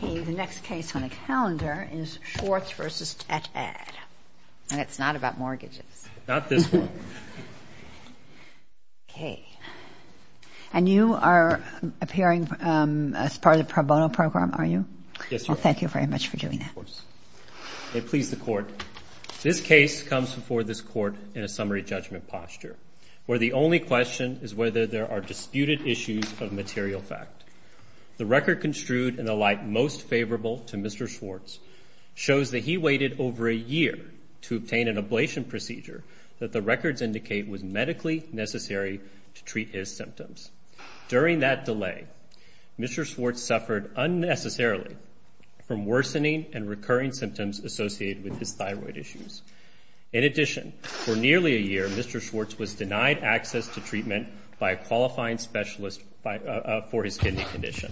The next case on the calendar is Schwartz v. Tatad, and it's not about mortgages. And you are appearing as part of the pro bono program, are you? Yes, Your Honor. Well, thank you very much for doing that. Of course. May it please the Court. This case comes before this Court in a summary judgment posture, where the only question is whether there are disputed issues of material fact. The record construed in the light most favorable to Mr. Schwartz shows that he waited over a year to obtain an ablation procedure that the records indicate was medically necessary to treat his symptoms. During that delay, Mr. Schwartz suffered unnecessarily from worsening and recurring symptoms associated with his thyroid issues. In addition, for nearly a year, Mr. Schwartz was denied access to treatment by a qualifying specialist for his kidney condition.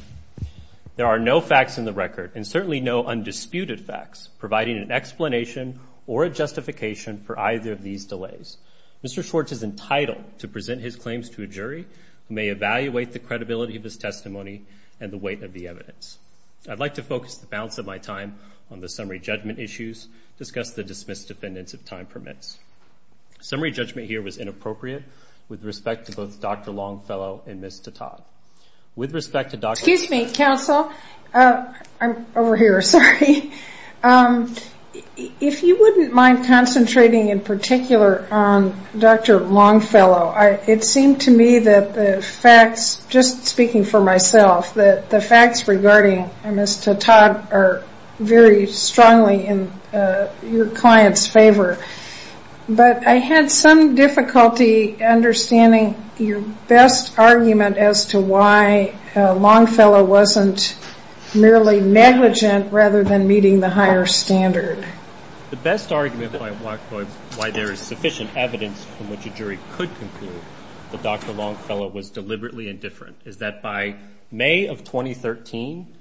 There are no facts in the record, and certainly no undisputed facts, providing an explanation or a justification for either of these delays. Mr. Schwartz is entitled to present his claims to a jury who may evaluate the credibility of his testimony and the weight of the evidence. I'd like to focus the balance of my time on the summary judgment issues, discuss the dismissed defendants if time permits. Summary judgment here was inappropriate with respect to both Dr. Longfellow and Ms. Tattad. With respect to Dr. Tattad- Excuse me, counsel. I'm over here, sorry. If you wouldn't mind concentrating in particular on Dr. Longfellow, it seemed to me that the facts, just speaking for myself, that the facts regarding Ms. Tattad are very strongly in your client's favor. But I had some difficulty understanding your best argument as to why Longfellow wasn't merely negligent rather than meeting the higher standard. The best argument by Blackboard, why there is sufficient evidence from which a jury could conclude that Dr. Longfellow was deliberately indifferent, is that by May of 2013,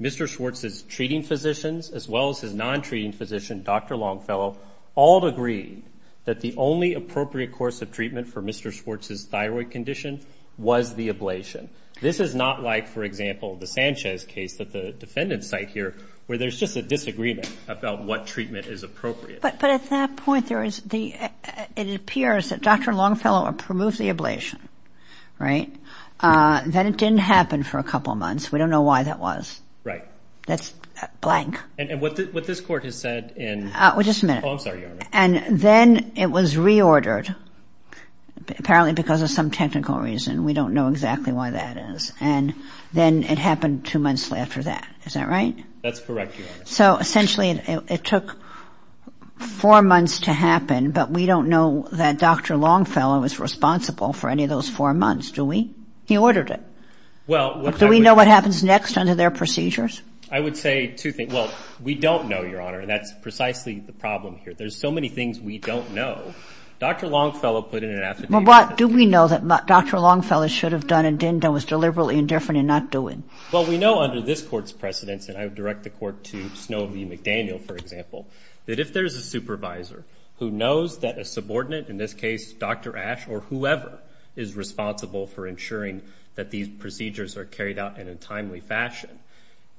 Mr. Schwartz's treating physicians as well as his non-treating physician, Dr. Longfellow, all agreed that the only appropriate course of treatment for Mr. Schwartz's thyroid condition was the ablation. This is not like, for example, the Sanchez case that the defendants cite here where there's just a disagreement about what treatment is appropriate. But at that point, it appears that Dr. Longfellow removed the ablation, right? Then it didn't happen for a couple of months. We don't know why that was. Right. That's blank. And what this court has said in— Well, just a minute. Oh, I'm sorry, Your Honor. And then it was reordered, apparently because of some technical reason. We don't know exactly why that is. And then it happened two months after that. That's correct, Your Honor. So, essentially, it took four months to happen, but we don't know that Dr. Longfellow was responsible for any of those four months, do we? He ordered it. Well, what I would— Do we know what happens next under their procedures? I would say two things. Well, we don't know, Your Honor, and that's precisely the problem here. There's so many things we don't know. Dr. Longfellow put in an affidavit— Well, what do we know that Dr. Longfellow should have done and didn't do and was deliberately indifferent in not doing? Well, we know under this Court's precedence, and I would direct the Court to Snow v. McDaniel, for example, that if there's a supervisor who knows that a subordinate, in this case Dr. Ash or whoever is responsible for ensuring that these procedures are carried out in a timely fashion,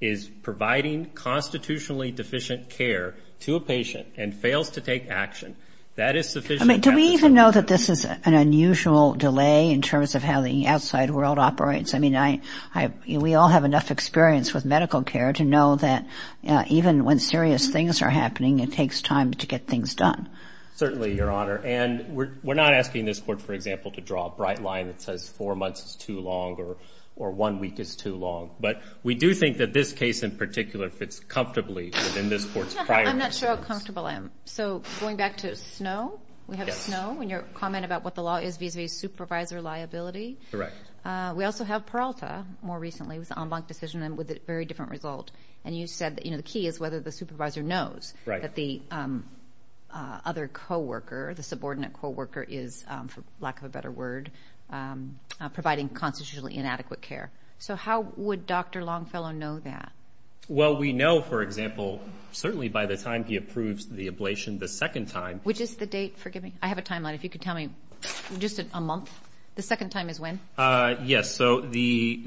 is providing constitutionally deficient care to a patient and fails to take action, that is sufficient— I mean, do we even know that this is an unusual delay in terms of how the outside world operates? I mean, we all have enough experience with medical care to know that even when serious things are happening, it takes time to get things done. Certainly, Your Honor. And we're not asking this Court, for example, to draw a bright line that says four months is too long or one week is too long. But we do think that this case in particular fits comfortably within this Court's prior experience. I'm not sure how comfortable I am. So going back to Snow, we have Snow in your comment about what the law is vis-à-vis supervisor liability. Correct. We also have Peralta more recently with the en banc decision with a very different result. And you said that the key is whether the supervisor knows that the other co-worker, the subordinate co-worker, is, for lack of a better word, providing constitutionally inadequate care. So how would Dr. Longfellow know that? Well, we know, for example, certainly by the time he approves the ablation the second time. Which is the date? Forgive me. I have a timeline. If you could tell me just a month. The second time is when? Yes. So the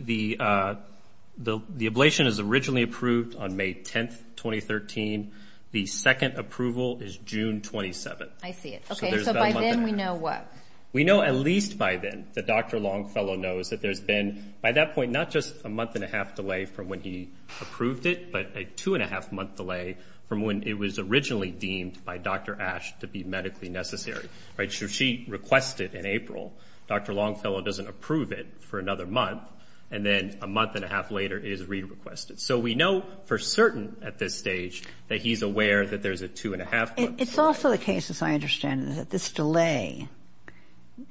ablation is originally approved on May 10, 2013. The second approval is June 27. I see it. So by then we know what? We know at least by then that Dr. Longfellow knows that there's been, by that point, not just a month-and-a-half delay from when he approved it, but a two-and-a-half-month delay from when it was originally deemed by Dr. Ash to be medically necessary. So she requested in April. Dr. Longfellow doesn't approve it for another month. And then a month-and-a-half later it is re-requested. So we know for certain at this stage that he's aware that there's a two-and-a-half-month delay. It's also the case, as I understand it, that this delay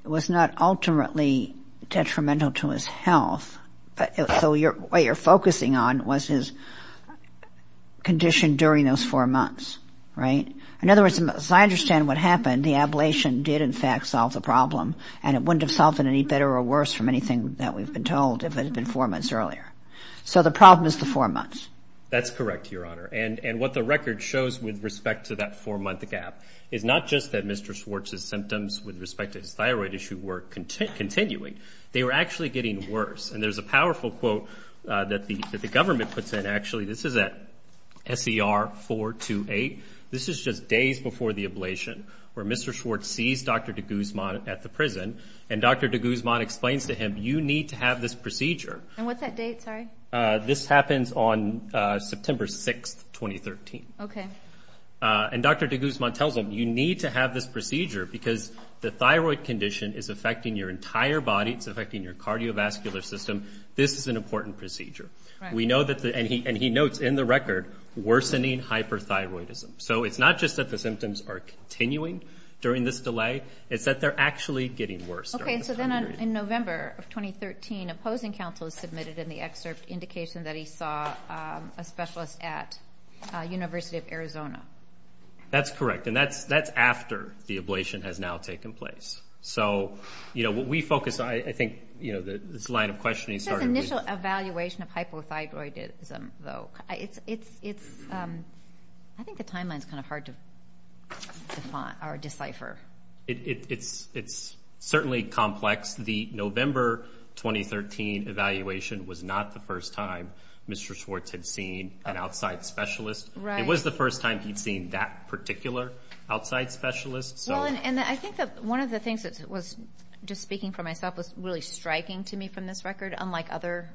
was not ultimately detrimental to his health. So what you're focusing on was his condition during those four months, right? In other words, as I understand what happened, the ablation did, in fact, solve the problem. And it wouldn't have solved it any better or worse from anything that we've been told if it had been four months earlier. So the problem is the four months. That's correct, Your Honor. And what the record shows with respect to that four-month gap is not just that Mr. Schwartz's symptoms with respect to his thyroid issue were continuing. They were actually getting worse. And there's a powerful quote that the government puts in, actually. This is at S.E.R. 428. This is just days before the ablation where Mr. Schwartz sees Dr. de Guzman at the prison, and Dr. de Guzman explains to him, you need to have this procedure. And what's that date, sorry? This happens on September 6, 2013. Okay. And Dr. de Guzman tells him, you need to have this procedure because the thyroid condition is affecting your entire body. It's affecting your cardiovascular system. This is an important procedure. And he notes in the record, worsening hyperthyroidism. So it's not just that the symptoms are continuing during this delay, it's that they're actually getting worse during this time period. Okay, so then in November of 2013, opposing counsel submitted in the excerpt indication that he saw a specialist at University of Arizona. That's correct. And that's after the ablation has now taken place. So, you know, what we focus on, I think, this line of questioning started with... Just initial evaluation of hypothyroidism, though. I think the timeline is kind of hard to decipher. It's certainly complex. The November 2013 evaluation was not the first time Mr. Schwartz had seen an outside specialist. It was the first time he'd seen that particular outside specialist. Well, and I think that one of the things that was, just speaking for myself, was really striking to me from this record, unlike other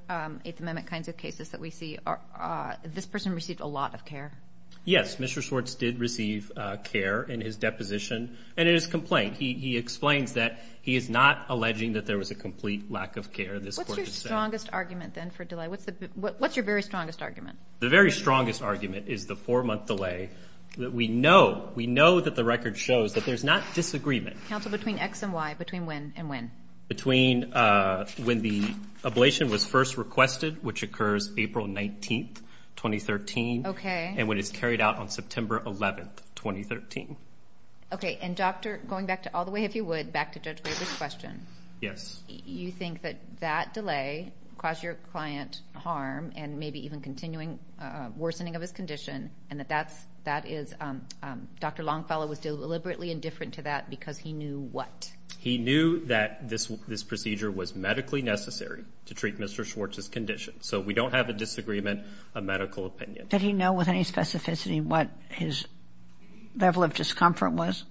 Eighth Amendment kinds of cases that we see, this person received a lot of care. Yes, Mr. Schwartz did receive care in his deposition and in his complaint. He explains that he is not alleging that there was a complete lack of care. What's your strongest argument, then, for delay? What's your very strongest argument? The very strongest argument is the four-month delay. We know that the record shows that there's not disagreement. Counsel, between X and Y, between when and when? Between when the ablation was first requested, which occurs April 19, 2013, and when it's carried out on September 11, 2013. Okay. And, Doctor, going back to all the way, if you would, back to Judge Graber's question. Yes. You think that that delay caused your client harm and maybe even worsening of his condition, and that Dr. Longfellow was deliberately indifferent to that because he knew what? He knew that this procedure was medically necessary to treat Mr. Schwartz's condition. So we don't have a disagreement, a medical opinion. Did he know with any specificity what his level of discomfort was?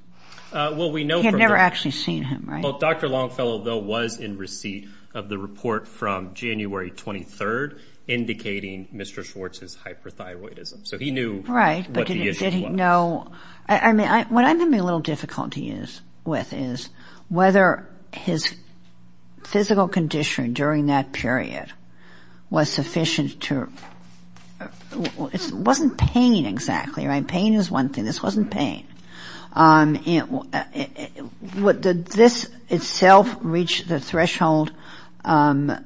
Well, we know from the- He had never actually seen him, right? Well, Dr. Longfellow, though, was in receipt of the report from January 23, indicating Mr. Schwartz's hyperthyroidism. So he knew what the issue was. Right, but did he know? What I'm having a little difficulty with is whether his physical condition during that period was sufficient to- It wasn't pain, exactly, right? Pain is one thing. This wasn't pain. Did this itself reach the threshold of-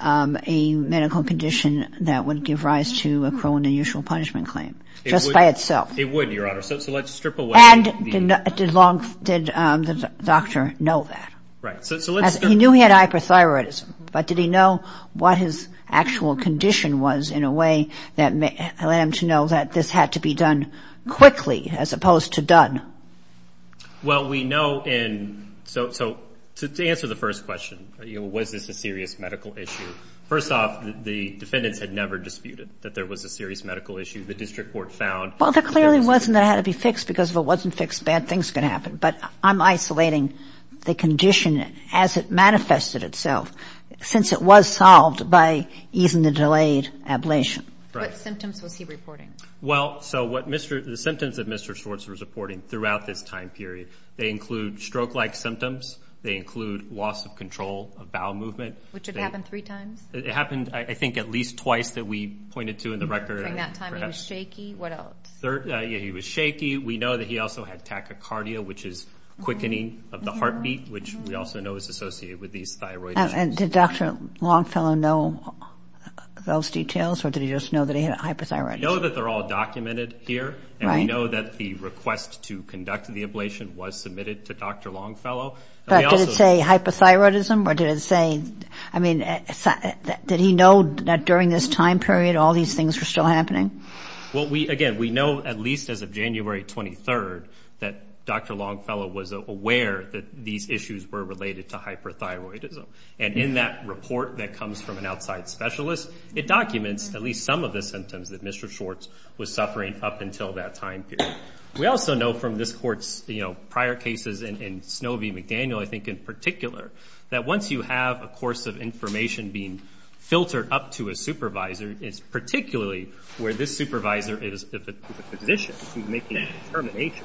of a medical condition that would give rise to a cruel and unusual punishment claim just by itself? It would, Your Honor. So let's strip away- And did the doctor know that? Right, so let's- He knew he had hyperthyroidism, but did he know what his actual condition was in a way that let him to know that this had to be done quickly as opposed to done? Well, we know in- So to answer the first question, was this a serious medical issue, first off, the defendants had never disputed that there was a serious medical issue. The district court found- Well, there clearly wasn't that it had to be fixed, because if it wasn't fixed, bad things could happen. But I'm isolating the condition as it manifested itself, since it was solved by easing the delayed ablation. What symptoms was he reporting? Well, so what Mr.- The symptoms that Mr. Schwartz was reporting throughout this time period, they include stroke-like symptoms. They include loss of control of bowel movement. Which had happened three times? It happened, I think, at least twice that we pointed to in the record. During that time, he was shaky. What else? He was shaky. We know that he also had tachycardia, which is quickening of the heartbeat, which we also know is associated with these thyroid issues. And did Dr. Longfellow know those details, or did he just know that he had hyperthyroidism? We know that they're all documented here, and we know that the request to conduct the ablation was submitted to Dr. Longfellow. But did it say hyperthyroidism, or did it say- I mean, did he know that during this time period all these things were still happening? Well, again, we know, at least as of January 23rd, that Dr. Longfellow was aware that these issues were related to hyperthyroidism. And in that report that comes from an outside specialist, it documents at least some of the symptoms that Mr. Schwartz was suffering up until that time period. We also know from this Court's prior cases and Snovee McDaniel, I think, in particular, that once you have a course of information being filtered up to a supervisor, it's particularly where this supervisor is, if it's a physician, who's making a determination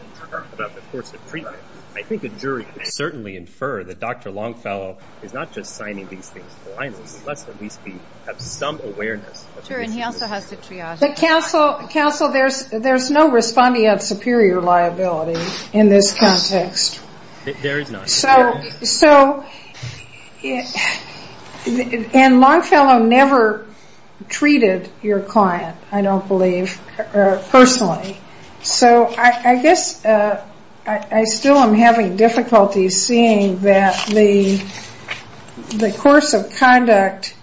about the course of treatment, I think the jury could certainly infer that Dr. Longfellow is not just signing these things to the line list. Let's at least have some awareness. Sure, and he also has to triage. Counsel, there's no responding of superior liability in this context. There is not. So, and Longfellow never treated your client, I don't believe, personally. So, I guess I still am having difficulty seeing that the course of conduct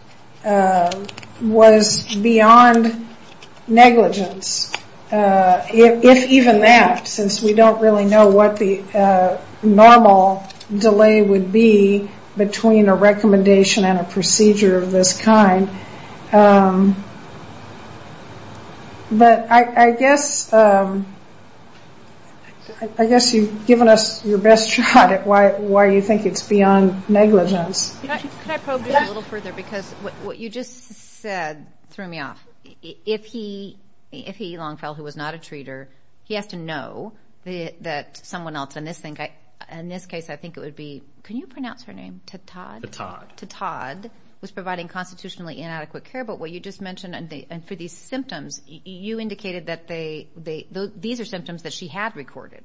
was beyond negligence, if even that, since we don't really know what the normal delay would be between a recommendation and a procedure of this kind. But I guess you've given us your best shot at why you think it's beyond negligence. Can I probe you a little further? Because what you just said threw me off. If he, Longfellow, who was not a treater, he has to know that someone else, and in this case I think it would be, can you pronounce her name, Tataad? Tataad. Tataad was providing constitutionally inadequate care, but what you just mentioned for these symptoms, you indicated that these are symptoms that she had recorded,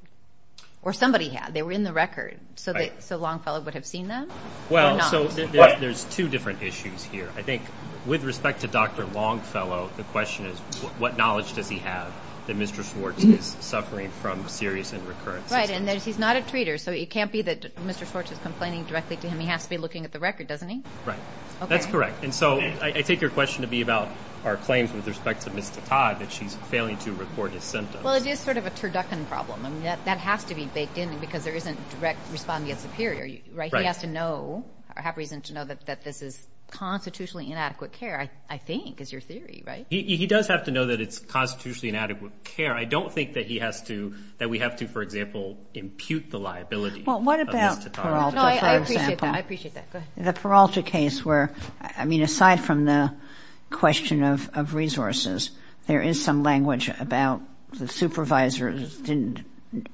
or somebody had. They were in the record, so Longfellow would have seen them? Well, so there's two different issues here. I think with respect to Dr. Longfellow, the question is, what knowledge does he have that Mr. Schwartz is suffering from serious and recurrent symptoms? Right, and he's not a treater, so it can't be that Mr. Schwartz is complaining directly to him. He has to be looking at the record, doesn't he? Right, that's correct. And so I take your question to be about our claims with respect to Ms. Tataad, that she's failing to record his symptoms. Well, it is sort of a turducken problem. That has to be baked in because there isn't direct response against the superior. He has to know or have reason to know that this is constitutionally inadequate care, I think, is your theory, right? He does have to know that it's constitutionally inadequate care. I don't think that he has to, that we have to, for example, impute the liability of Ms. Tataad. No, I appreciate that. I appreciate that. Go ahead. The Peralta case where, I mean, aside from the question of resources, there is some language about the supervisors didn't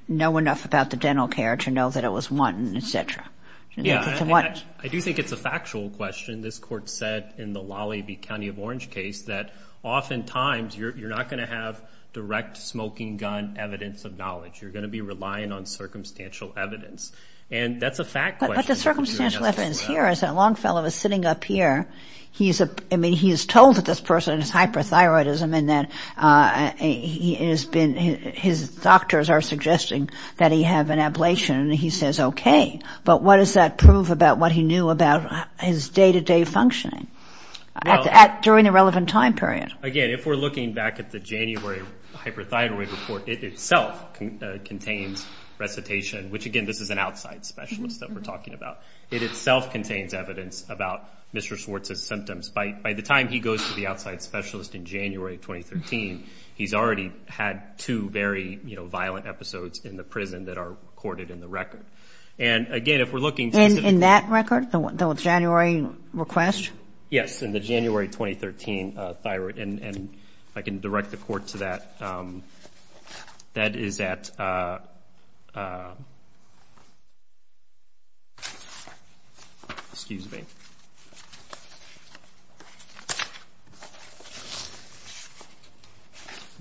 know enough about the dental care to know that it was wanted, et cetera. Yeah, and I do think it's a factual question. This Court said in the Lollibee County of Orange case that oftentimes you're not going to have direct smoking gun evidence of knowledge. You're going to be relying on circumstantial evidence. And that's a fact question. But the circumstantial evidence here is that Longfellow is sitting up here. I mean, he is told that this person has hyperthyroidism and that his doctors are suggesting that he have an ablation, and he says, okay. But what does that prove about what he knew about his day-to-day functioning during the relevant time period? Again, if we're looking back at the January hyperthyroid report, it itself contains recitation, which, again, this is an outside specialist that we're talking about. It itself contains evidence about Mr. Schwartz's symptoms. By the time he goes to the outside specialist in January of 2013, he's already had two very violent episodes in the prison that are recorded in the record. And, again, if we're looking specifically at- In that record, the January request? Yes, in the January 2013 thyroid. And if I can direct the court to that, that is at- Excuse me.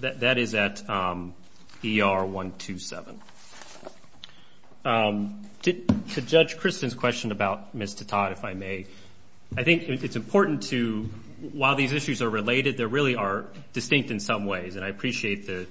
That is at ER-127. To Judge Kristen's question about Ms. Titot, if I may, I think it's important to- They really are distinct in some ways, and I appreciate the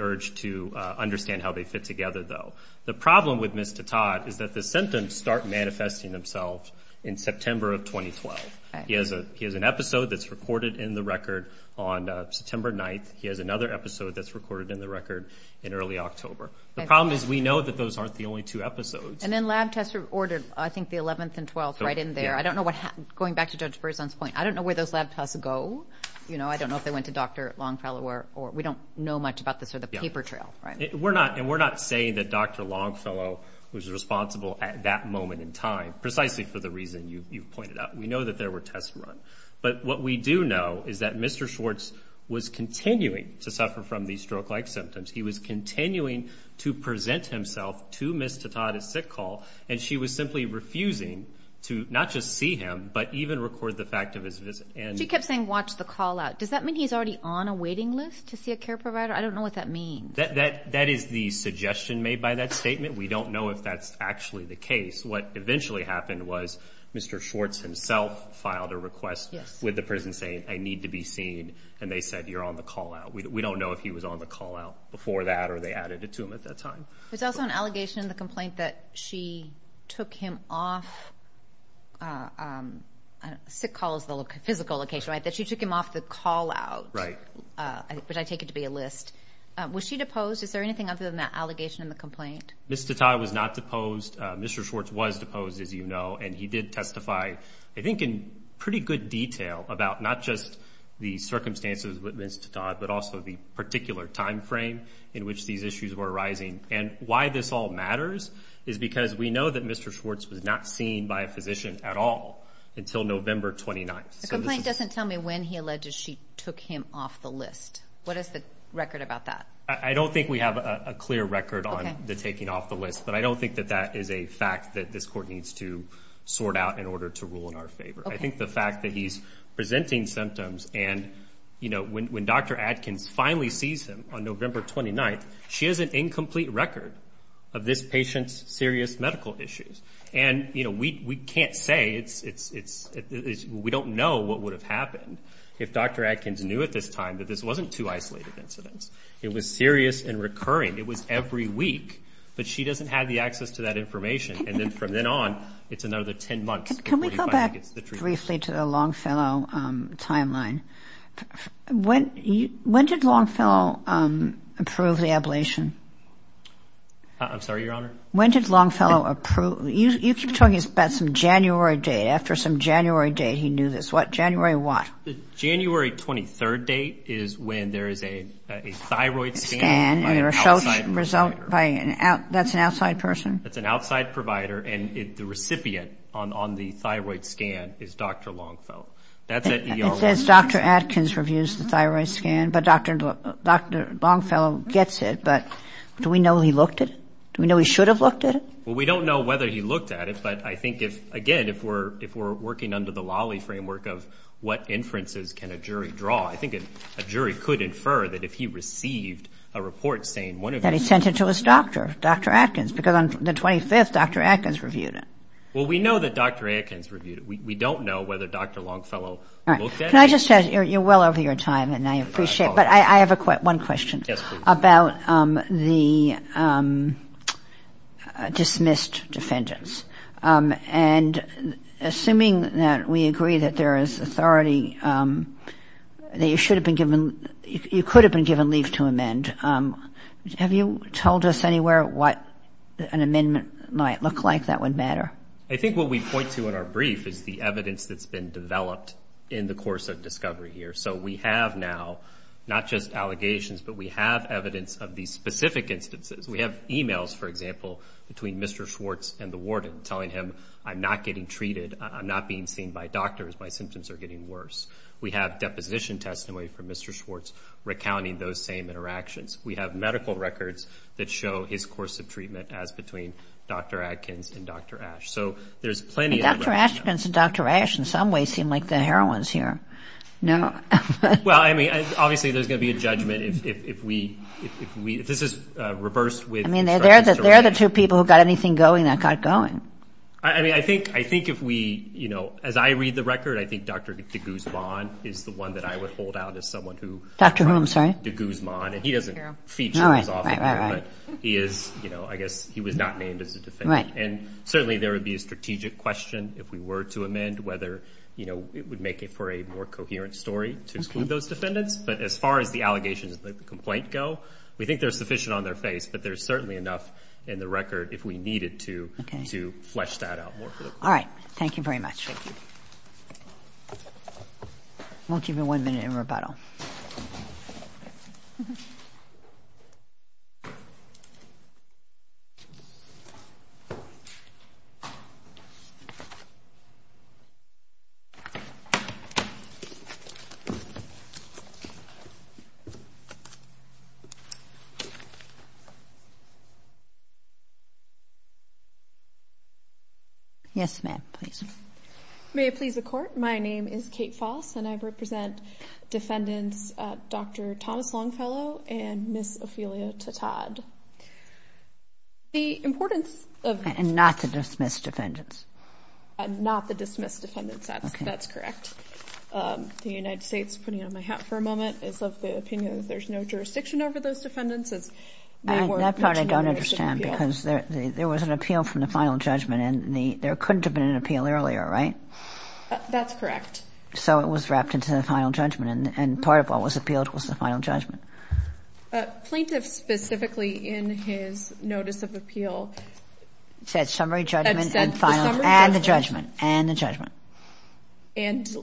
urge to understand how they fit together, though. The problem with Ms. Titot is that the symptoms start manifesting themselves in September of 2012. He has an episode that's recorded in the record on September 9th. He has another episode that's recorded in the record in early October. The problem is we know that those aren't the only two episodes. And then lab tests are ordered, I think, the 11th and 12th, right in there. Going back to Judge Berzon's point, I don't know where those lab tests go. I don't know if they went to Dr. Longfellow, or we don't know much about this, or the paper trail, right? And we're not saying that Dr. Longfellow was responsible at that moment in time, precisely for the reason you pointed out. We know that there were tests run. But what we do know is that Mr. Schwartz was continuing to suffer from these stroke-like symptoms. He was continuing to present himself to Ms. Titot at sick call, and she was simply refusing to not just see him but even record the fact of his visit. She kept saying, watch the call-out. Does that mean he's already on a waiting list to see a care provider? I don't know what that means. That is the suggestion made by that statement. We don't know if that's actually the case. What eventually happened was Mr. Schwartz himself filed a request with the prison saying, I need to be seen, and they said, you're on the call-out. We don't know if he was on the call-out before that or they added it to him at that time. There's also an allegation in the complaint that she took him off sick calls, the physical location, right, that she took him off the call-out. Right. Which I take it to be a list. Was she deposed? Is there anything other than that allegation in the complaint? Ms. Titot was not deposed. Mr. Schwartz was deposed, as you know, and he did testify I think in pretty good detail about not just the circumstances with Ms. Titot but also the particular time frame in which these issues were arising. And why this all matters is because we know that Mr. Schwartz was not seen by a physician at all until November 29th. The complaint doesn't tell me when he alleged she took him off the list. What is the record about that? I don't think we have a clear record on the taking off the list, but I don't think that that is a fact that this court needs to sort out in order to rule in our favor. I think the fact that he's presenting symptoms and, you know, when Dr. Adkins finally sees him on November 29th, she has an incomplete record of this patient's serious medical issues. And, you know, we can't say. We don't know what would have happened if Dr. Adkins knew at this time that this wasn't two isolated incidents. It was serious and recurring. It was every week, but she doesn't have the access to that information. And then from then on, it's another 10 months before he finally gets the treatment. Let's move briefly to the Longfellow timeline. When did Longfellow approve the ablation? I'm sorry, Your Honor? When did Longfellow approve? You keep talking about some January date. After some January date, he knew this. What, January what? The January 23rd date is when there is a thyroid scan by an outside provider. That's an outside person? That's an outside provider, and the recipient on the thyroid scan is Dr. Longfellow. It says Dr. Adkins reviews the thyroid scan, but Dr. Longfellow gets it. But do we know he looked at it? Do we know he should have looked at it? Well, we don't know whether he looked at it, but I think if, again, if we're working under the Lolly framework of what inferences can a jury draw, I think a jury could infer that if he received a report saying one of his ‑‑ that he sent it to his doctor, Dr. Adkins, because on the 25th, Dr. Adkins reviewed it. Well, we know that Dr. Adkins reviewed it. We don't know whether Dr. Longfellow looked at it. Can I just add, you're well over your time, and I appreciate it, but I have one question about the dismissed defendants. And assuming that we agree that there is authority that you should have been given ‑‑ have you told us anywhere what an amendment might look like that would matter? I think what we point to in our brief is the evidence that's been developed in the course of discovery here. So we have now not just allegations, but we have evidence of these specific instances. We have e-mails, for example, between Mr. Schwartz and the warden telling him, I'm not getting treated, I'm not being seen by doctors, my symptoms are getting worse. We have deposition testimony from Mr. Schwartz recounting those same interactions. We have medical records that show his course of treatment as between Dr. Adkins and Dr. Ashe. So there's plenty of evidence. Dr. Adkins and Dr. Ashe in some ways seem like the heroines here. Well, I mean, obviously there's going to be a judgment if we ‑‑ if this is reversed with instructions to release. I mean, they're the two people who got anything going that got going. I mean, I think if we, you know, as I read the record, I think Dr. de Guzman is the one that I would hold out as someone who ‑‑ Dr. whom, sorry? Dr. de Guzman, and he doesn't feature as often, but he is, you know, I guess he was not named as a defendant. And certainly there would be a strategic question if we were to amend whether, you know, it would make it for a more coherent story to exclude those defendants. But as far as the allegations of the complaint go, we think they're sufficient on their face, but there's certainly enough in the record if we needed to flesh that out more. All right. Thank you very much. Thank you. We'll give you one minute in rebuttal. Okay. Yes, ma'am, please. May it please the Court, my name is Kate Foss, and I represent defendants Dr. Thomas Longfellow and Ms. Ophelia Tatad. The importance of ‑‑ And not to dismiss defendants. Not to dismiss defendants, that's correct. The United States, putting on my hat for a moment, is of the opinion that there's no jurisdiction over those defendants. That part I don't understand, because there was an appeal from the final judgment, and there couldn't have been an appeal earlier, right? That's correct. So it was wrapped into the final judgment, and part of what was appealed was the final judgment. Plaintiff specifically in his notice of appeal ‑‑ Said summary judgment and final ‑‑ And said the summary judgment. And the judgment, and the judgment. And,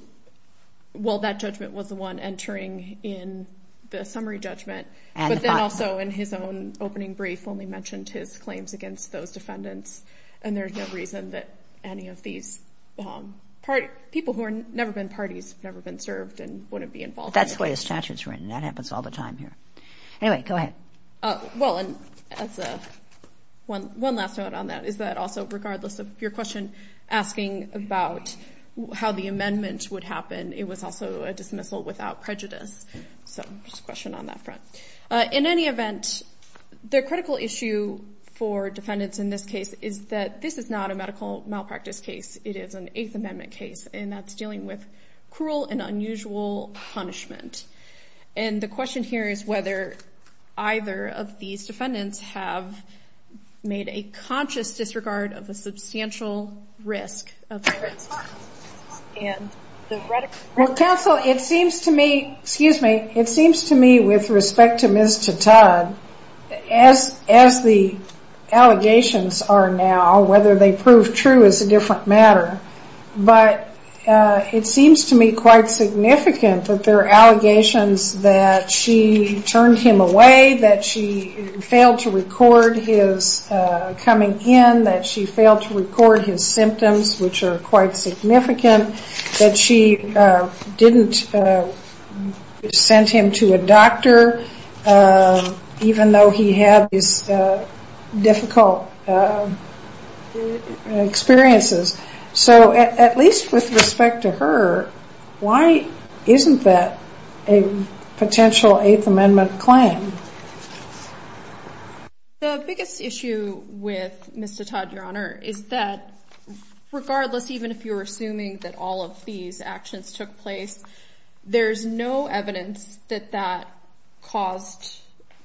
well, that judgment was the one entering in the summary judgment, but then also in his own opening brief only mentioned his claims against those defendants, and there's no reason that any of these people who have never been parties have never been served and wouldn't be involved. That's the way the statute is written. That happens all the time here. Anyway, go ahead. Well, and as a ‑‑ One last note on that is that also regardless of your question asking about how the amendment would happen, it was also a dismissal without prejudice. So just a question on that front. In any event, the critical issue for defendants in this case is that this is not a medical malpractice case. It is an Eighth Amendment case, and that's dealing with cruel and unusual punishment. And the question here is whether either of these defendants have made a conscious disregard of the substantial risk of ‑‑ Well, counsel, it seems to me ‑‑ Excuse me. It seems to me with respect to Ms. Tata, as the allegations are now, whether they prove true is a different matter. But it seems to me quite significant that there are allegations that she turned him away, that she failed to record his coming in, that she failed to record his symptoms, which are quite significant, that she didn't send him to a doctor even though he had these difficult experiences. So at least with respect to her, why isn't that a potential Eighth Amendment claim? The biggest issue with Mr. Todd, Your Honor, is that regardless, even if you're assuming that all of these actions took place, there's no evidence that that caused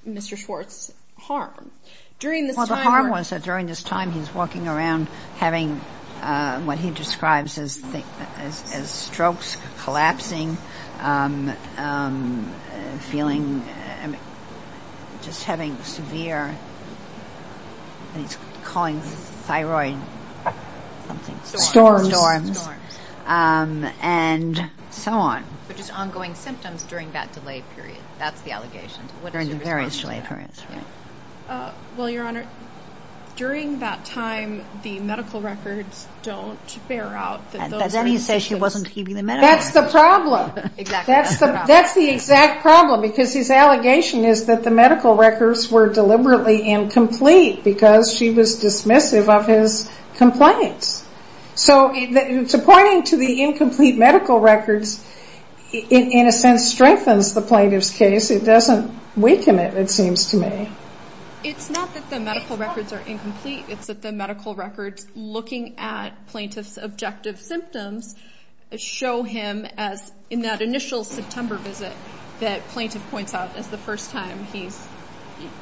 Mr. Schwartz harm. During this time ‑‑ Well, the harm was that during this time, he's walking around having what he describes as strokes, collapsing, feeling, just having severe, he's calling thyroid something. Storms. And so on. But just ongoing symptoms during that delay period. That's the allegation. During the various delay periods. Well, Your Honor, during that time, the medical records don't bear out. Then he says she wasn't keeping the medical records. That's the problem. Exactly. That's the exact problem, because his allegation is that the medical records were deliberately incomplete because she was dismissive of his complaints. So pointing to the incomplete medical records, in a sense, strengthens the plaintiff's case. It doesn't weaken it, it seems to me. It's not that the medical records are incomplete. It's that the medical records looking at plaintiff's objective symptoms show him as, in that initial September visit, that plaintiff points out as the first time he's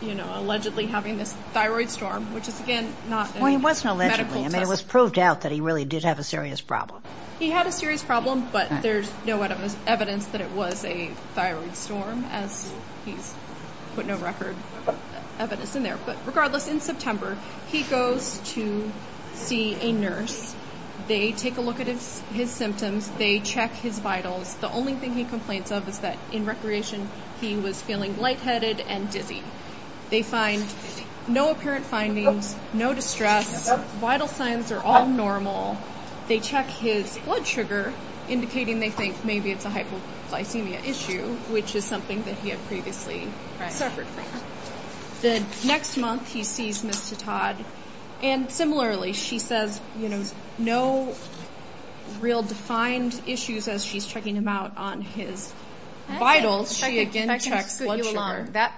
allegedly having this thyroid storm, which is, again, not a medical test. Exactly. I mean, it was proved out that he really did have a serious problem. He had a serious problem, but there's no evidence that it was a thyroid storm, as he's put no record evidence in there. But regardless, in September, he goes to see a nurse. They take a look at his symptoms. They check his vitals. The only thing he complains of is that in recreation he was feeling lightheaded and dizzy. They find no apparent findings, no distress. Vital signs are all normal. They check his blood sugar, indicating they think maybe it's a hypoglycemia issue, which is something that he had previously suffered from. The next month, he sees Ms. Titad, and similarly she says no real defined issues as she's checking him out on his vitals. She again checks blood sugar.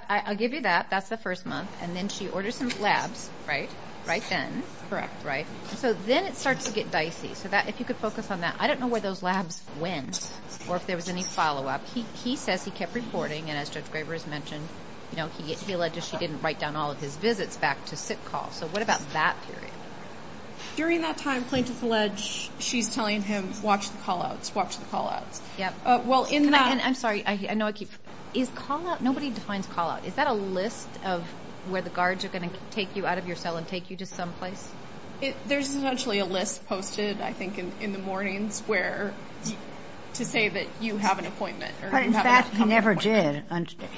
I'll give you that. That's the first month. And then she orders some labs, right? Right then. Correct. So then it starts to get dicey. If you could focus on that. I don't know where those labs went or if there was any follow-up. He says he kept reporting, and as Judge Graber has mentioned, he alleges she didn't write down all of his visits back to sick call. So what about that period? During that time, plaintiffs allege she's telling him, watch the call-outs, watch the call-outs. I'm sorry. Nobody defines call-out. Is that a list of where the guards are going to take you out of your cell and take you to some place? There's essentially a list posted, I think, in the mornings to say that you have an appointment. But in fact, he never did.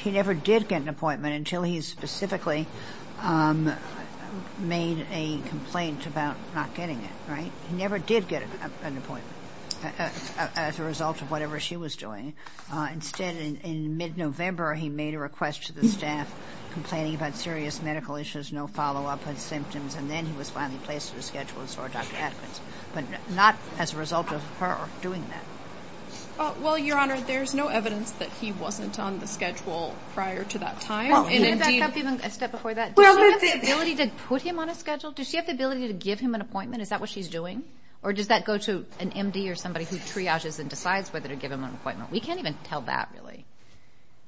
He never did get an appointment until he specifically made a complaint about not getting it. He never did get an appointment as a result of whatever she was doing. Instead, in mid-November, he made a request to the staff complaining about serious medical issues, no follow-up on symptoms, and then he was finally placed on a schedule and saw Dr. Atkins. But not as a result of her doing that. Well, Your Honor, there's no evidence that he wasn't on the schedule prior to that time. Can I back up even a step before that? Does she have the ability to put him on a schedule? Does she have the ability to give him an appointment? Is that what she's doing? Or does that go to an M.D. or somebody who triages and decides whether to give him an appointment? We can't even tell that, really.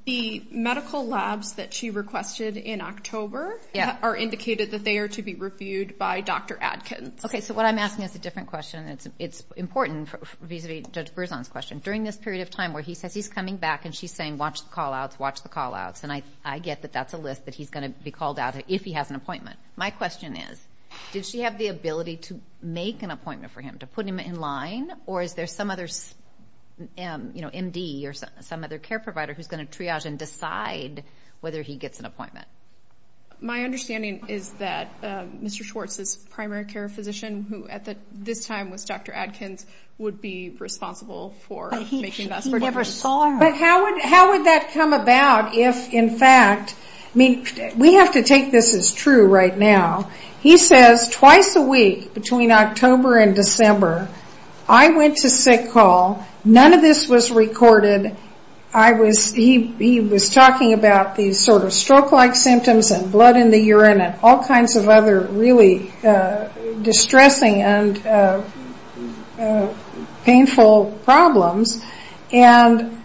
The medical labs that she requested in October are indicated that they are to be reviewed by Dr. Atkins. Okay, so what I'm asking is a different question. It's important vis-a-vis Judge Berzon's question. During this period of time where he says he's coming back and she's saying watch the call-outs, watch the call-outs, and I get that that's a list that he's going to be called out to if he has an appointment. My question is, did she have the ability to make an appointment for him, to put him in line, or is there some other M.D. or some other care provider who's going to triage and decide whether he gets an appointment? My understanding is that Mr. Schwartz's primary care physician, who at this time was Dr. Atkins, would be responsible for making that appointment. He never saw her. But how would that come about if, in fact, we have to take this as true right now. He says twice a week, between October and December, I went to sick call. None of this was recorded. He was talking about these sort of stroke-like symptoms and blood in the urine and all kinds of other really distressing and painful problems. And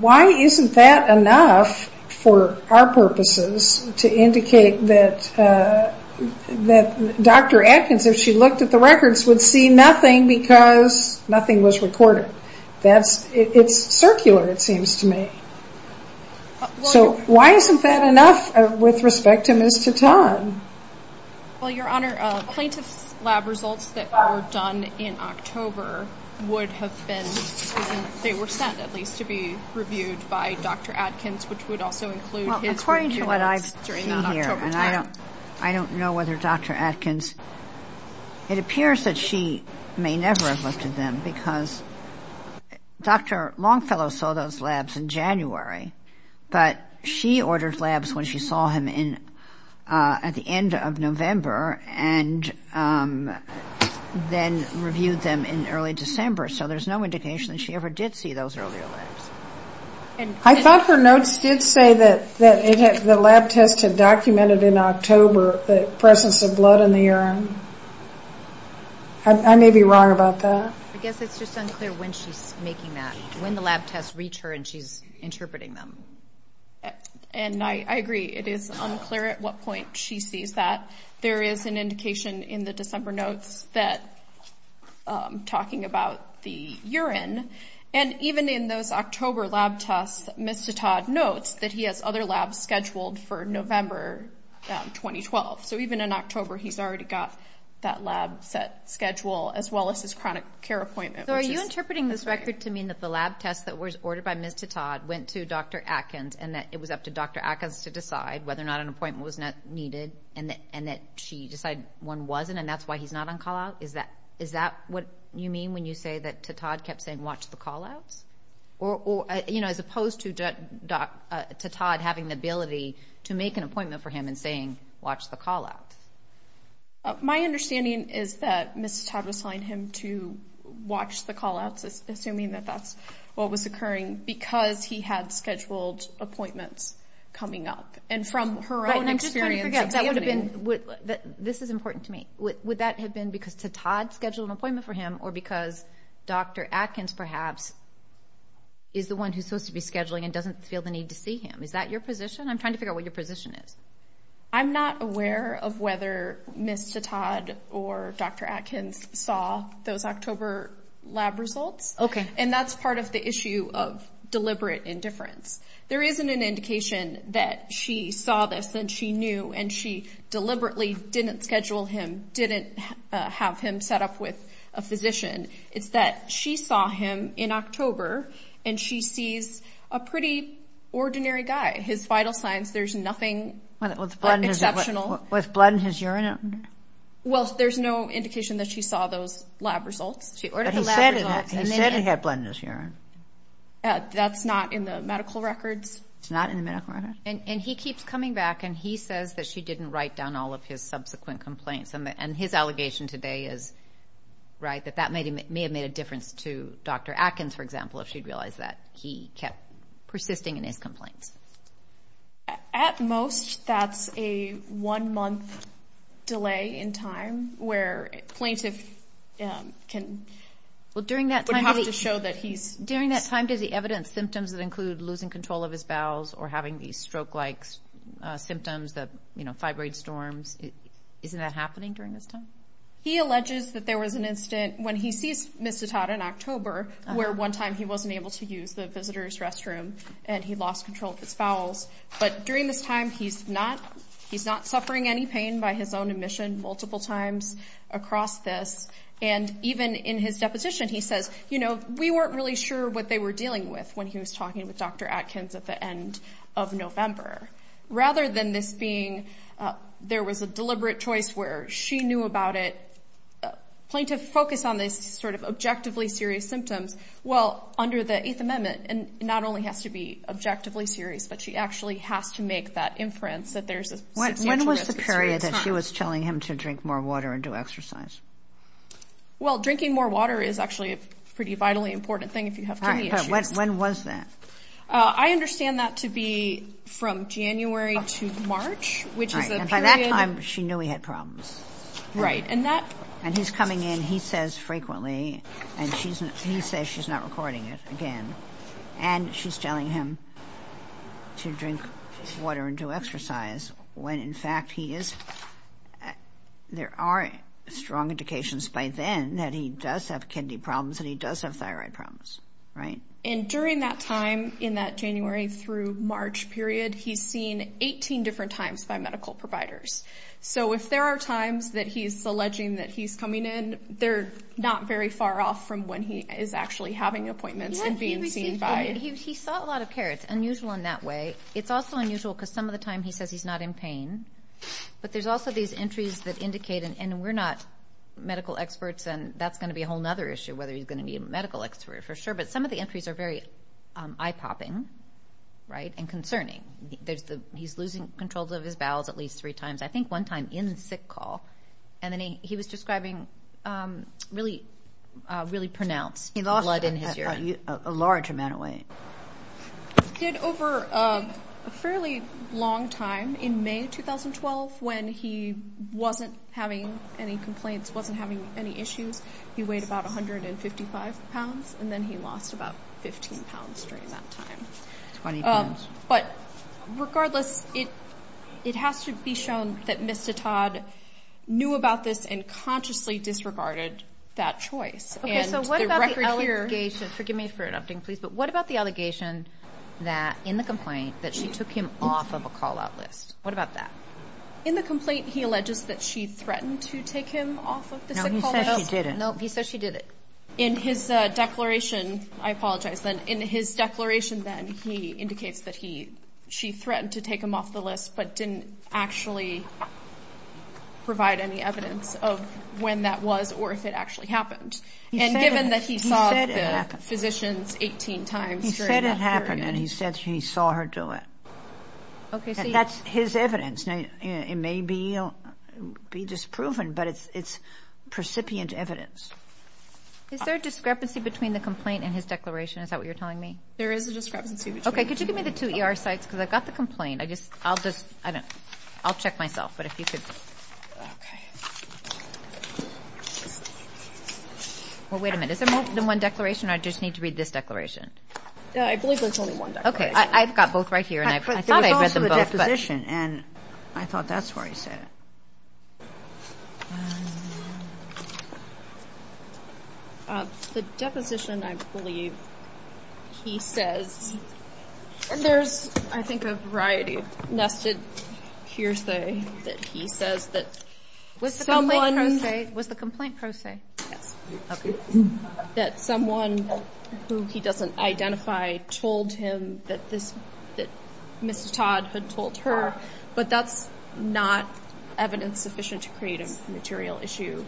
why isn't that enough for our purposes to indicate that Dr. Atkins, if she looked at the records, would see nothing because nothing was recorded? It's circular, it seems to me. So why isn't that enough with respect to Ms. Titon? Well, Your Honor, plaintiff's lab results that were done in October would have been they were sent, at least, to be reviewed by Dr. Atkins, which would also include his records during that October time. Well, according to what I see here, and I don't know whether Dr. Atkins, it appears that she may never have looked at them because Dr. Longfellow saw those labs in January, but she ordered labs when she saw him at the end of November and then reviewed them in early December. So there's no indication that she ever did see those earlier labs. I thought her notes did say that the lab test had documented in October the presence of blood in the urine. I may be wrong about that. I guess it's just unclear when she's making that, when the lab tests reach her and she's interpreting them. And I agree, it is unclear at what point she sees that. There is an indication in the December notes that, talking about the urine, and even in those October lab tests, Ms. Titon notes that he has other labs scheduled for November 2012. So even in October he's already got that lab set schedule as well as his chronic care appointment. So are you interpreting this record to mean that the lab test that was ordered by Ms. Titon went to Dr. Atkins and that it was up to Dr. Atkins to decide whether or not an appointment was needed and that she decided one wasn't and that's why he's not on callout? Is that what you mean when you say that Titon kept saying, watch the callouts? As opposed to Titon having the ability to make an appointment for him and saying, watch the callouts. My understanding is that Ms. Titon assigned him to watch the callouts, assuming that that's what was occurring, because he had scheduled appointments coming up. And from her own experience, that would have been... This is important to me. Would that have been because Titon scheduled an appointment for him or because Dr. Atkins perhaps is the one who's supposed to be scheduling and doesn't feel the need to see him? Is that your position? I'm trying to figure out what your position is. I'm not aware of whether Ms. Titon or Dr. Atkins saw those October lab results. Okay. And that's part of the issue of deliberate indifference. There isn't an indication that she saw this and she knew and she deliberately didn't schedule him, didn't have him set up with a physician. It's that she saw him in October and she sees a pretty ordinary guy. His vital signs, there's nothing exceptional. Was blood in his urine? Well, there's no indication that she saw those lab results. But he said he had blood in his urine. That's not in the medical records. It's not in the medical records? And he keeps coming back and he says that she didn't write down all of his subsequent complaints. And his allegation today is, right, that that may have made a difference to Dr. Atkins, for example, if she'd realized that he kept persisting in his complaints. At most, that's a one-month delay in time where a plaintiff can have to show that he's sick. During that time, does he evidence symptoms that include losing control of his bowels or having these stroke-like symptoms, fibroid storms? Isn't that happening during this time? He alleges that there was an incident when he sees Ms. Titon in October where one time he wasn't able to use the visitor's restroom and he lost control of his bowels. But during this time, he's not suffering any pain by his own admission multiple times across this. And even in his deposition, he says, you know, we weren't really sure what they were dealing with when he was talking with Dr. Atkins at the end of November. Rather than this being there was a deliberate choice where she knew about it, the plaintiff focused on these sort of objectively serious symptoms. Well, under the Eighth Amendment, it not only has to be objectively serious, but she actually has to make that inference that there's a substantial risk. When was the period that she was telling him to drink more water and do exercise? Well, drinking more water is actually a pretty vitally important thing if you have kidney issues. All right, but when was that? I understand that to be from January to March, which is a period. All right, and by that time, she knew he had problems. Right, and that. And he's coming in, he says frequently, and he says she's not recording it again. And she's telling him to drink water and do exercise when, in fact, he is. There are strong indications by then that he does have kidney problems and he does have thyroid problems. Right. And during that time in that January through March period, he's seen 18 different times by medical providers. So if there are times that he's alleging that he's coming in, they're not very far off from when he is actually having appointments and being seen by. He saw a lot of care. It's unusual in that way. It's also unusual because some of the time he says he's not in pain. But there's also these entries that indicate, and we're not medical experts, and that's going to be a whole other issue whether he's going to be a medical expert for sure. But some of the entries are very eye-popping, right, and concerning. He's losing control of his bowels at least three times, I think one time in sick call, and then he was describing really pronounced blood in his urine. He lost a large amount of weight. He did over a fairly long time in May 2012 when he wasn't having any complaints, wasn't having any issues. He weighed about 155 pounds, and then he lost about 15 pounds during that time. But regardless, it has to be shown that Mr. Todd knew about this and consciously disregarded that choice. Okay, so what about the allegation? Forgive me for interrupting, please, but what about the allegation that in the complaint that she took him off of a call-out list? What about that? In the complaint he alleges that she threatened to take him off of the sick call list. No, he said she didn't. No, he said she didn't. But in his declaration, I apologize, in his declaration then he indicates that she threatened to take him off the list but didn't actually provide any evidence of when that was or if it actually happened. He said it happened. And given that he saw the physicians 18 times during that period. He said it happened, and he said he saw her do it. That's his evidence. It may be disproven, but it's precipient evidence. Is there a discrepancy between the complaint and his declaration? Is that what you're telling me? There is a discrepancy between them. Okay, could you give me the two ER sites because I've got the complaint. I'll check myself, but if you could. Okay. Well, wait a minute. Is there more than one declaration, or do I just need to read this declaration? I believe there's only one declaration. Okay, I've got both right here, and I thought I read them both. And I've got the one from the deposition and I thought that's where he said it. The deposition, I believe, he says, and there's I think a variety nested here that he says that someone. Was the complaint pro se? Yes. That someone who he doesn't identify told him that this, that Mrs. Todd had told her, but that's not evidence sufficient to create a material issue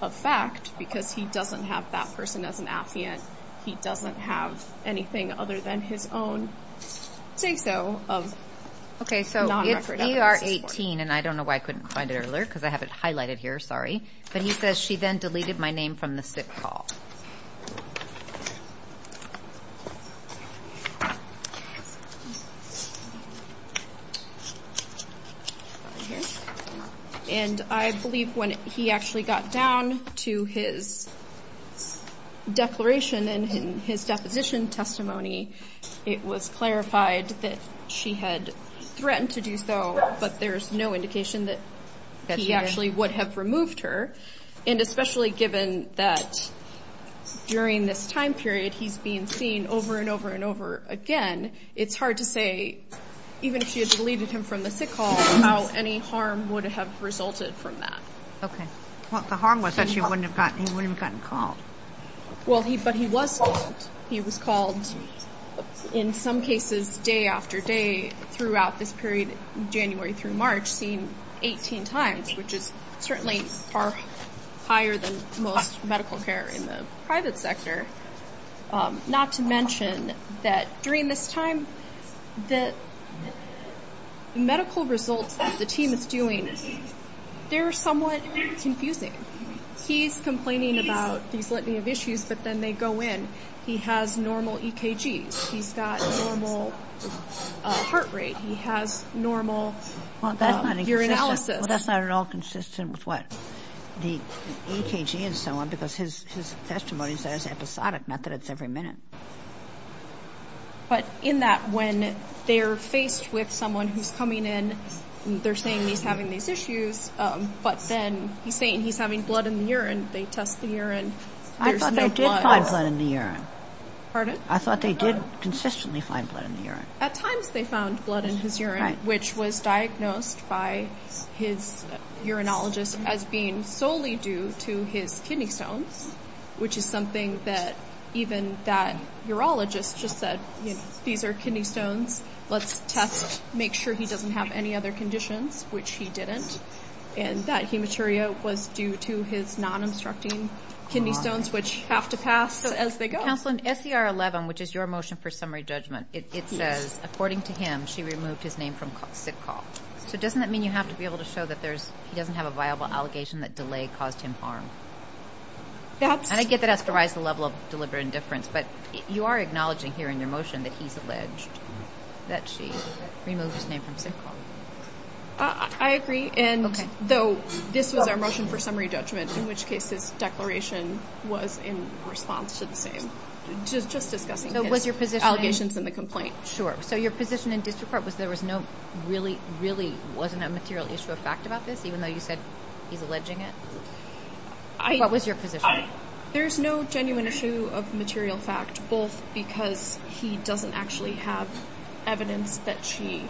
of fact because he doesn't have that person as an affiant. He doesn't have anything other than his own say so of non-record evidence. Okay, so if ER 18, and I don't know why I couldn't find it earlier because I have it highlighted here, sorry, but he says she then deleted my name from the sick call. And I believe when he actually got down to his declaration and his deposition testimony, it was clarified that she had threatened to do so, but there's no indication that he actually would have removed her. And especially given that during this time period, he's being seen over and over and over again, it's hard to say even if she had deleted him from the sick call, how any harm would have resulted from that. Okay. Well, the harm was that he wouldn't have gotten called. Well, but he was called. He was called in some cases day after day throughout this period, January through March, seen 18 times, which is certainly far higher than most medical care in the private sector. Not to mention that during this time, the medical results that the team is doing, they're somewhat confusing. He's complaining about these litany of issues, but then they go in. He has normal EKGs. He's got normal heart rate. He has normal urinalysis. Well, that's not at all consistent with what the EKG and so on, because his testimony is episodic, not that it's every minute. But in that, when they're faced with someone who's coming in and they're saying he's having these issues, but then he's saying he's having blood in the urine, they test the urine. I thought they did find blood in the urine. Pardon? I thought they did consistently find blood in the urine. At times they found blood in his urine, which was diagnosed by his urinologist as being solely due to his kidney stones, which is something that even that urologist just said, these are kidney stones, let's test, make sure he doesn't have any other conditions, which he didn't. And that hematuria was due to his non-obstructing kidney stones, which have to pass as they go. Counsel, in SCR 11, which is your motion for summary judgment, it says, according to him, she removed his name from sick call. So doesn't that mean you have to be able to show that he doesn't have a viable allegation that delay caused him harm? And I get that has to rise to the level of deliberate indifference, but you are acknowledging here in your motion that he's alleged that she removed his name from sick call. I agree, and though this was our motion for summary judgment, in which case his declaration was in response to the same, just discussing his allegations and the complaint. Sure. So your position in district court was there was no really, really wasn't a material issue of fact about this, even though you said he's alleging it? What was your position? There's no genuine issue of material fact, both because he doesn't actually have evidence that she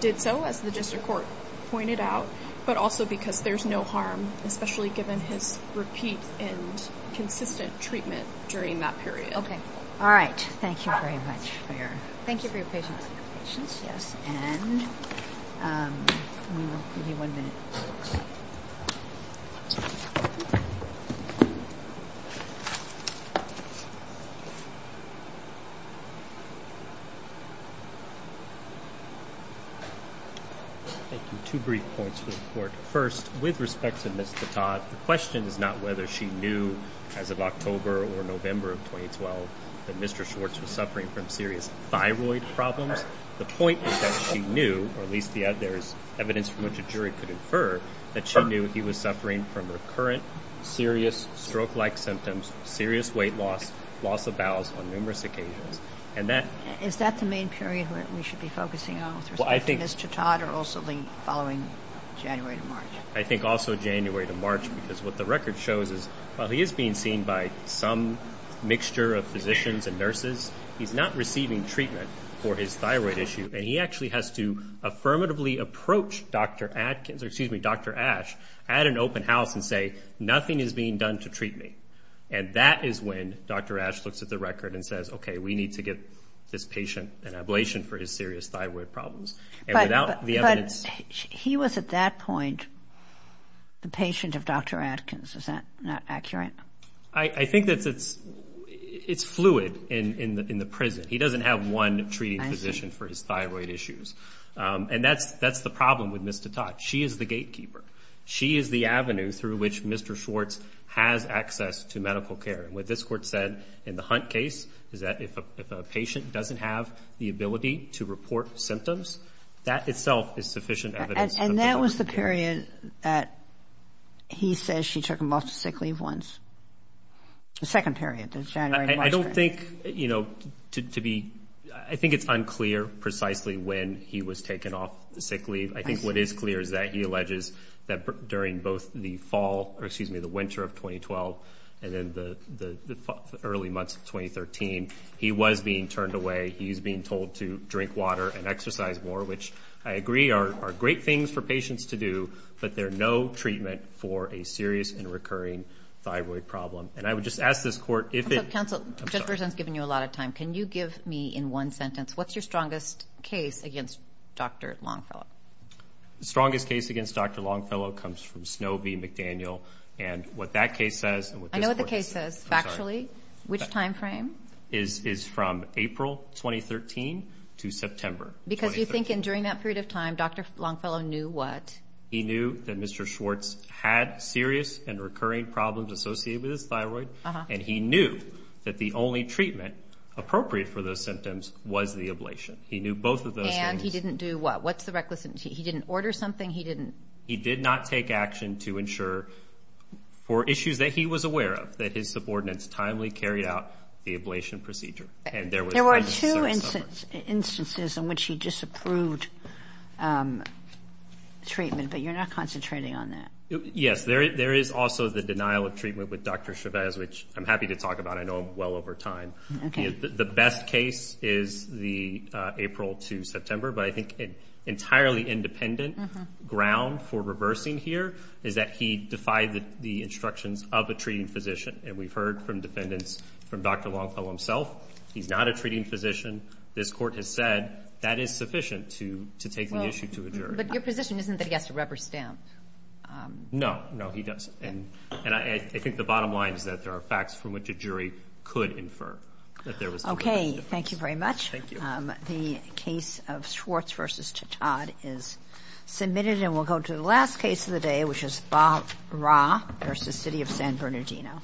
did so, as the district court pointed out, but also because there's no harm, especially given his repeat and consistent treatment during that period. Okay. All right. Thank you very much. Thank you for your patience. Yes. And we will give you one minute. Thank you. Two brief points for the court. First, with respect to Ms. Chautaud, the question is not whether she knew as of October or November of 2012 that Mr. Schwartz was suffering from serious thyroid problems. The point is that she knew, or at least there is evidence from which a jury could infer, that she knew he was suffering from recurrent serious stroke-like symptoms, serious weight loss, loss of bowels on numerous occasions. Is that the main period where we should be focusing on with respect to Ms. Chautaud going January to March? I think also January to March, because what the record shows is while he is being seen by some mixture of physicians and nurses, he's not receiving treatment for his thyroid issue, and he actually has to affirmatively approach Dr. Atkins, or excuse me, Dr. Ash at an open house and say, nothing is being done to treat me. And that is when Dr. Ash looks at the record and says, okay, we need to get this patient an ablation for his serious thyroid problems. But he was at that point the patient of Dr. Atkins. Is that not accurate? I think that it's fluid in the prison. He doesn't have one treating physician for his thyroid issues. And that's the problem with Ms. Chautaud. She is the gatekeeper. She is the avenue through which Mr. Schwartz has access to medical care. And what this court said in the Hunt case is that if a patient doesn't have the ability to report symptoms, that itself is sufficient evidence. And that was the period that he says she took him off sick leave once. The second period. I don't think, you know, to be, I think it's unclear precisely when he was taken off sick leave. I think what is clear is that he alleges that during both the fall or excuse me, the winter of 2012 and then the early months of 2013, he was being turned away. He's being told to drink water and exercise more, which I agree are great things for patients to do, but there are no treatment for a serious and recurring thyroid problem. And I would just ask this court, if it counsel just presents, giving you a lot of time, can you give me in one sentence, what's your strongest case against Dr. Longfellow strongest case against Dr. Longfellow comes from Snobby McDaniel. And what that case says, I know what the case says factually, which timeframe is, is from April, 2013 to September. Because you think in during that period of time, Dr. Longfellow knew what he knew that Mr. Schwartz had serious and recurring problems associated with his thyroid. And he knew that the only treatment appropriate for those symptoms was the ablation. He knew both of those. And he didn't do what, what's the requisite. He didn't order something. He didn't, he did not take action to ensure for issues that he was aware of that his There were two instances in which he disapproved treatment, but you're not concentrating on that. Yes, there is also the denial of treatment with Dr. Chavez, which I'm happy to talk about. I know well over time, the best case is the April to September, but I think entirely independent ground for reversing here is that he defied the instructions of a treating physician. And we've heard from defendants from Dr. Longfellow himself. He's not a treating physician. This court has said that is sufficient to, to take the issue to a jury. But your position isn't that he has to rubber stamp. No, no, he doesn't. And I think the bottom line is that there are facts from which a jury could infer that there was. Okay. Thank you very much. The case of Schwartz versus Todd is submitted and we'll go to the last case of the day, which is Bob Ra versus city of San Bernardino.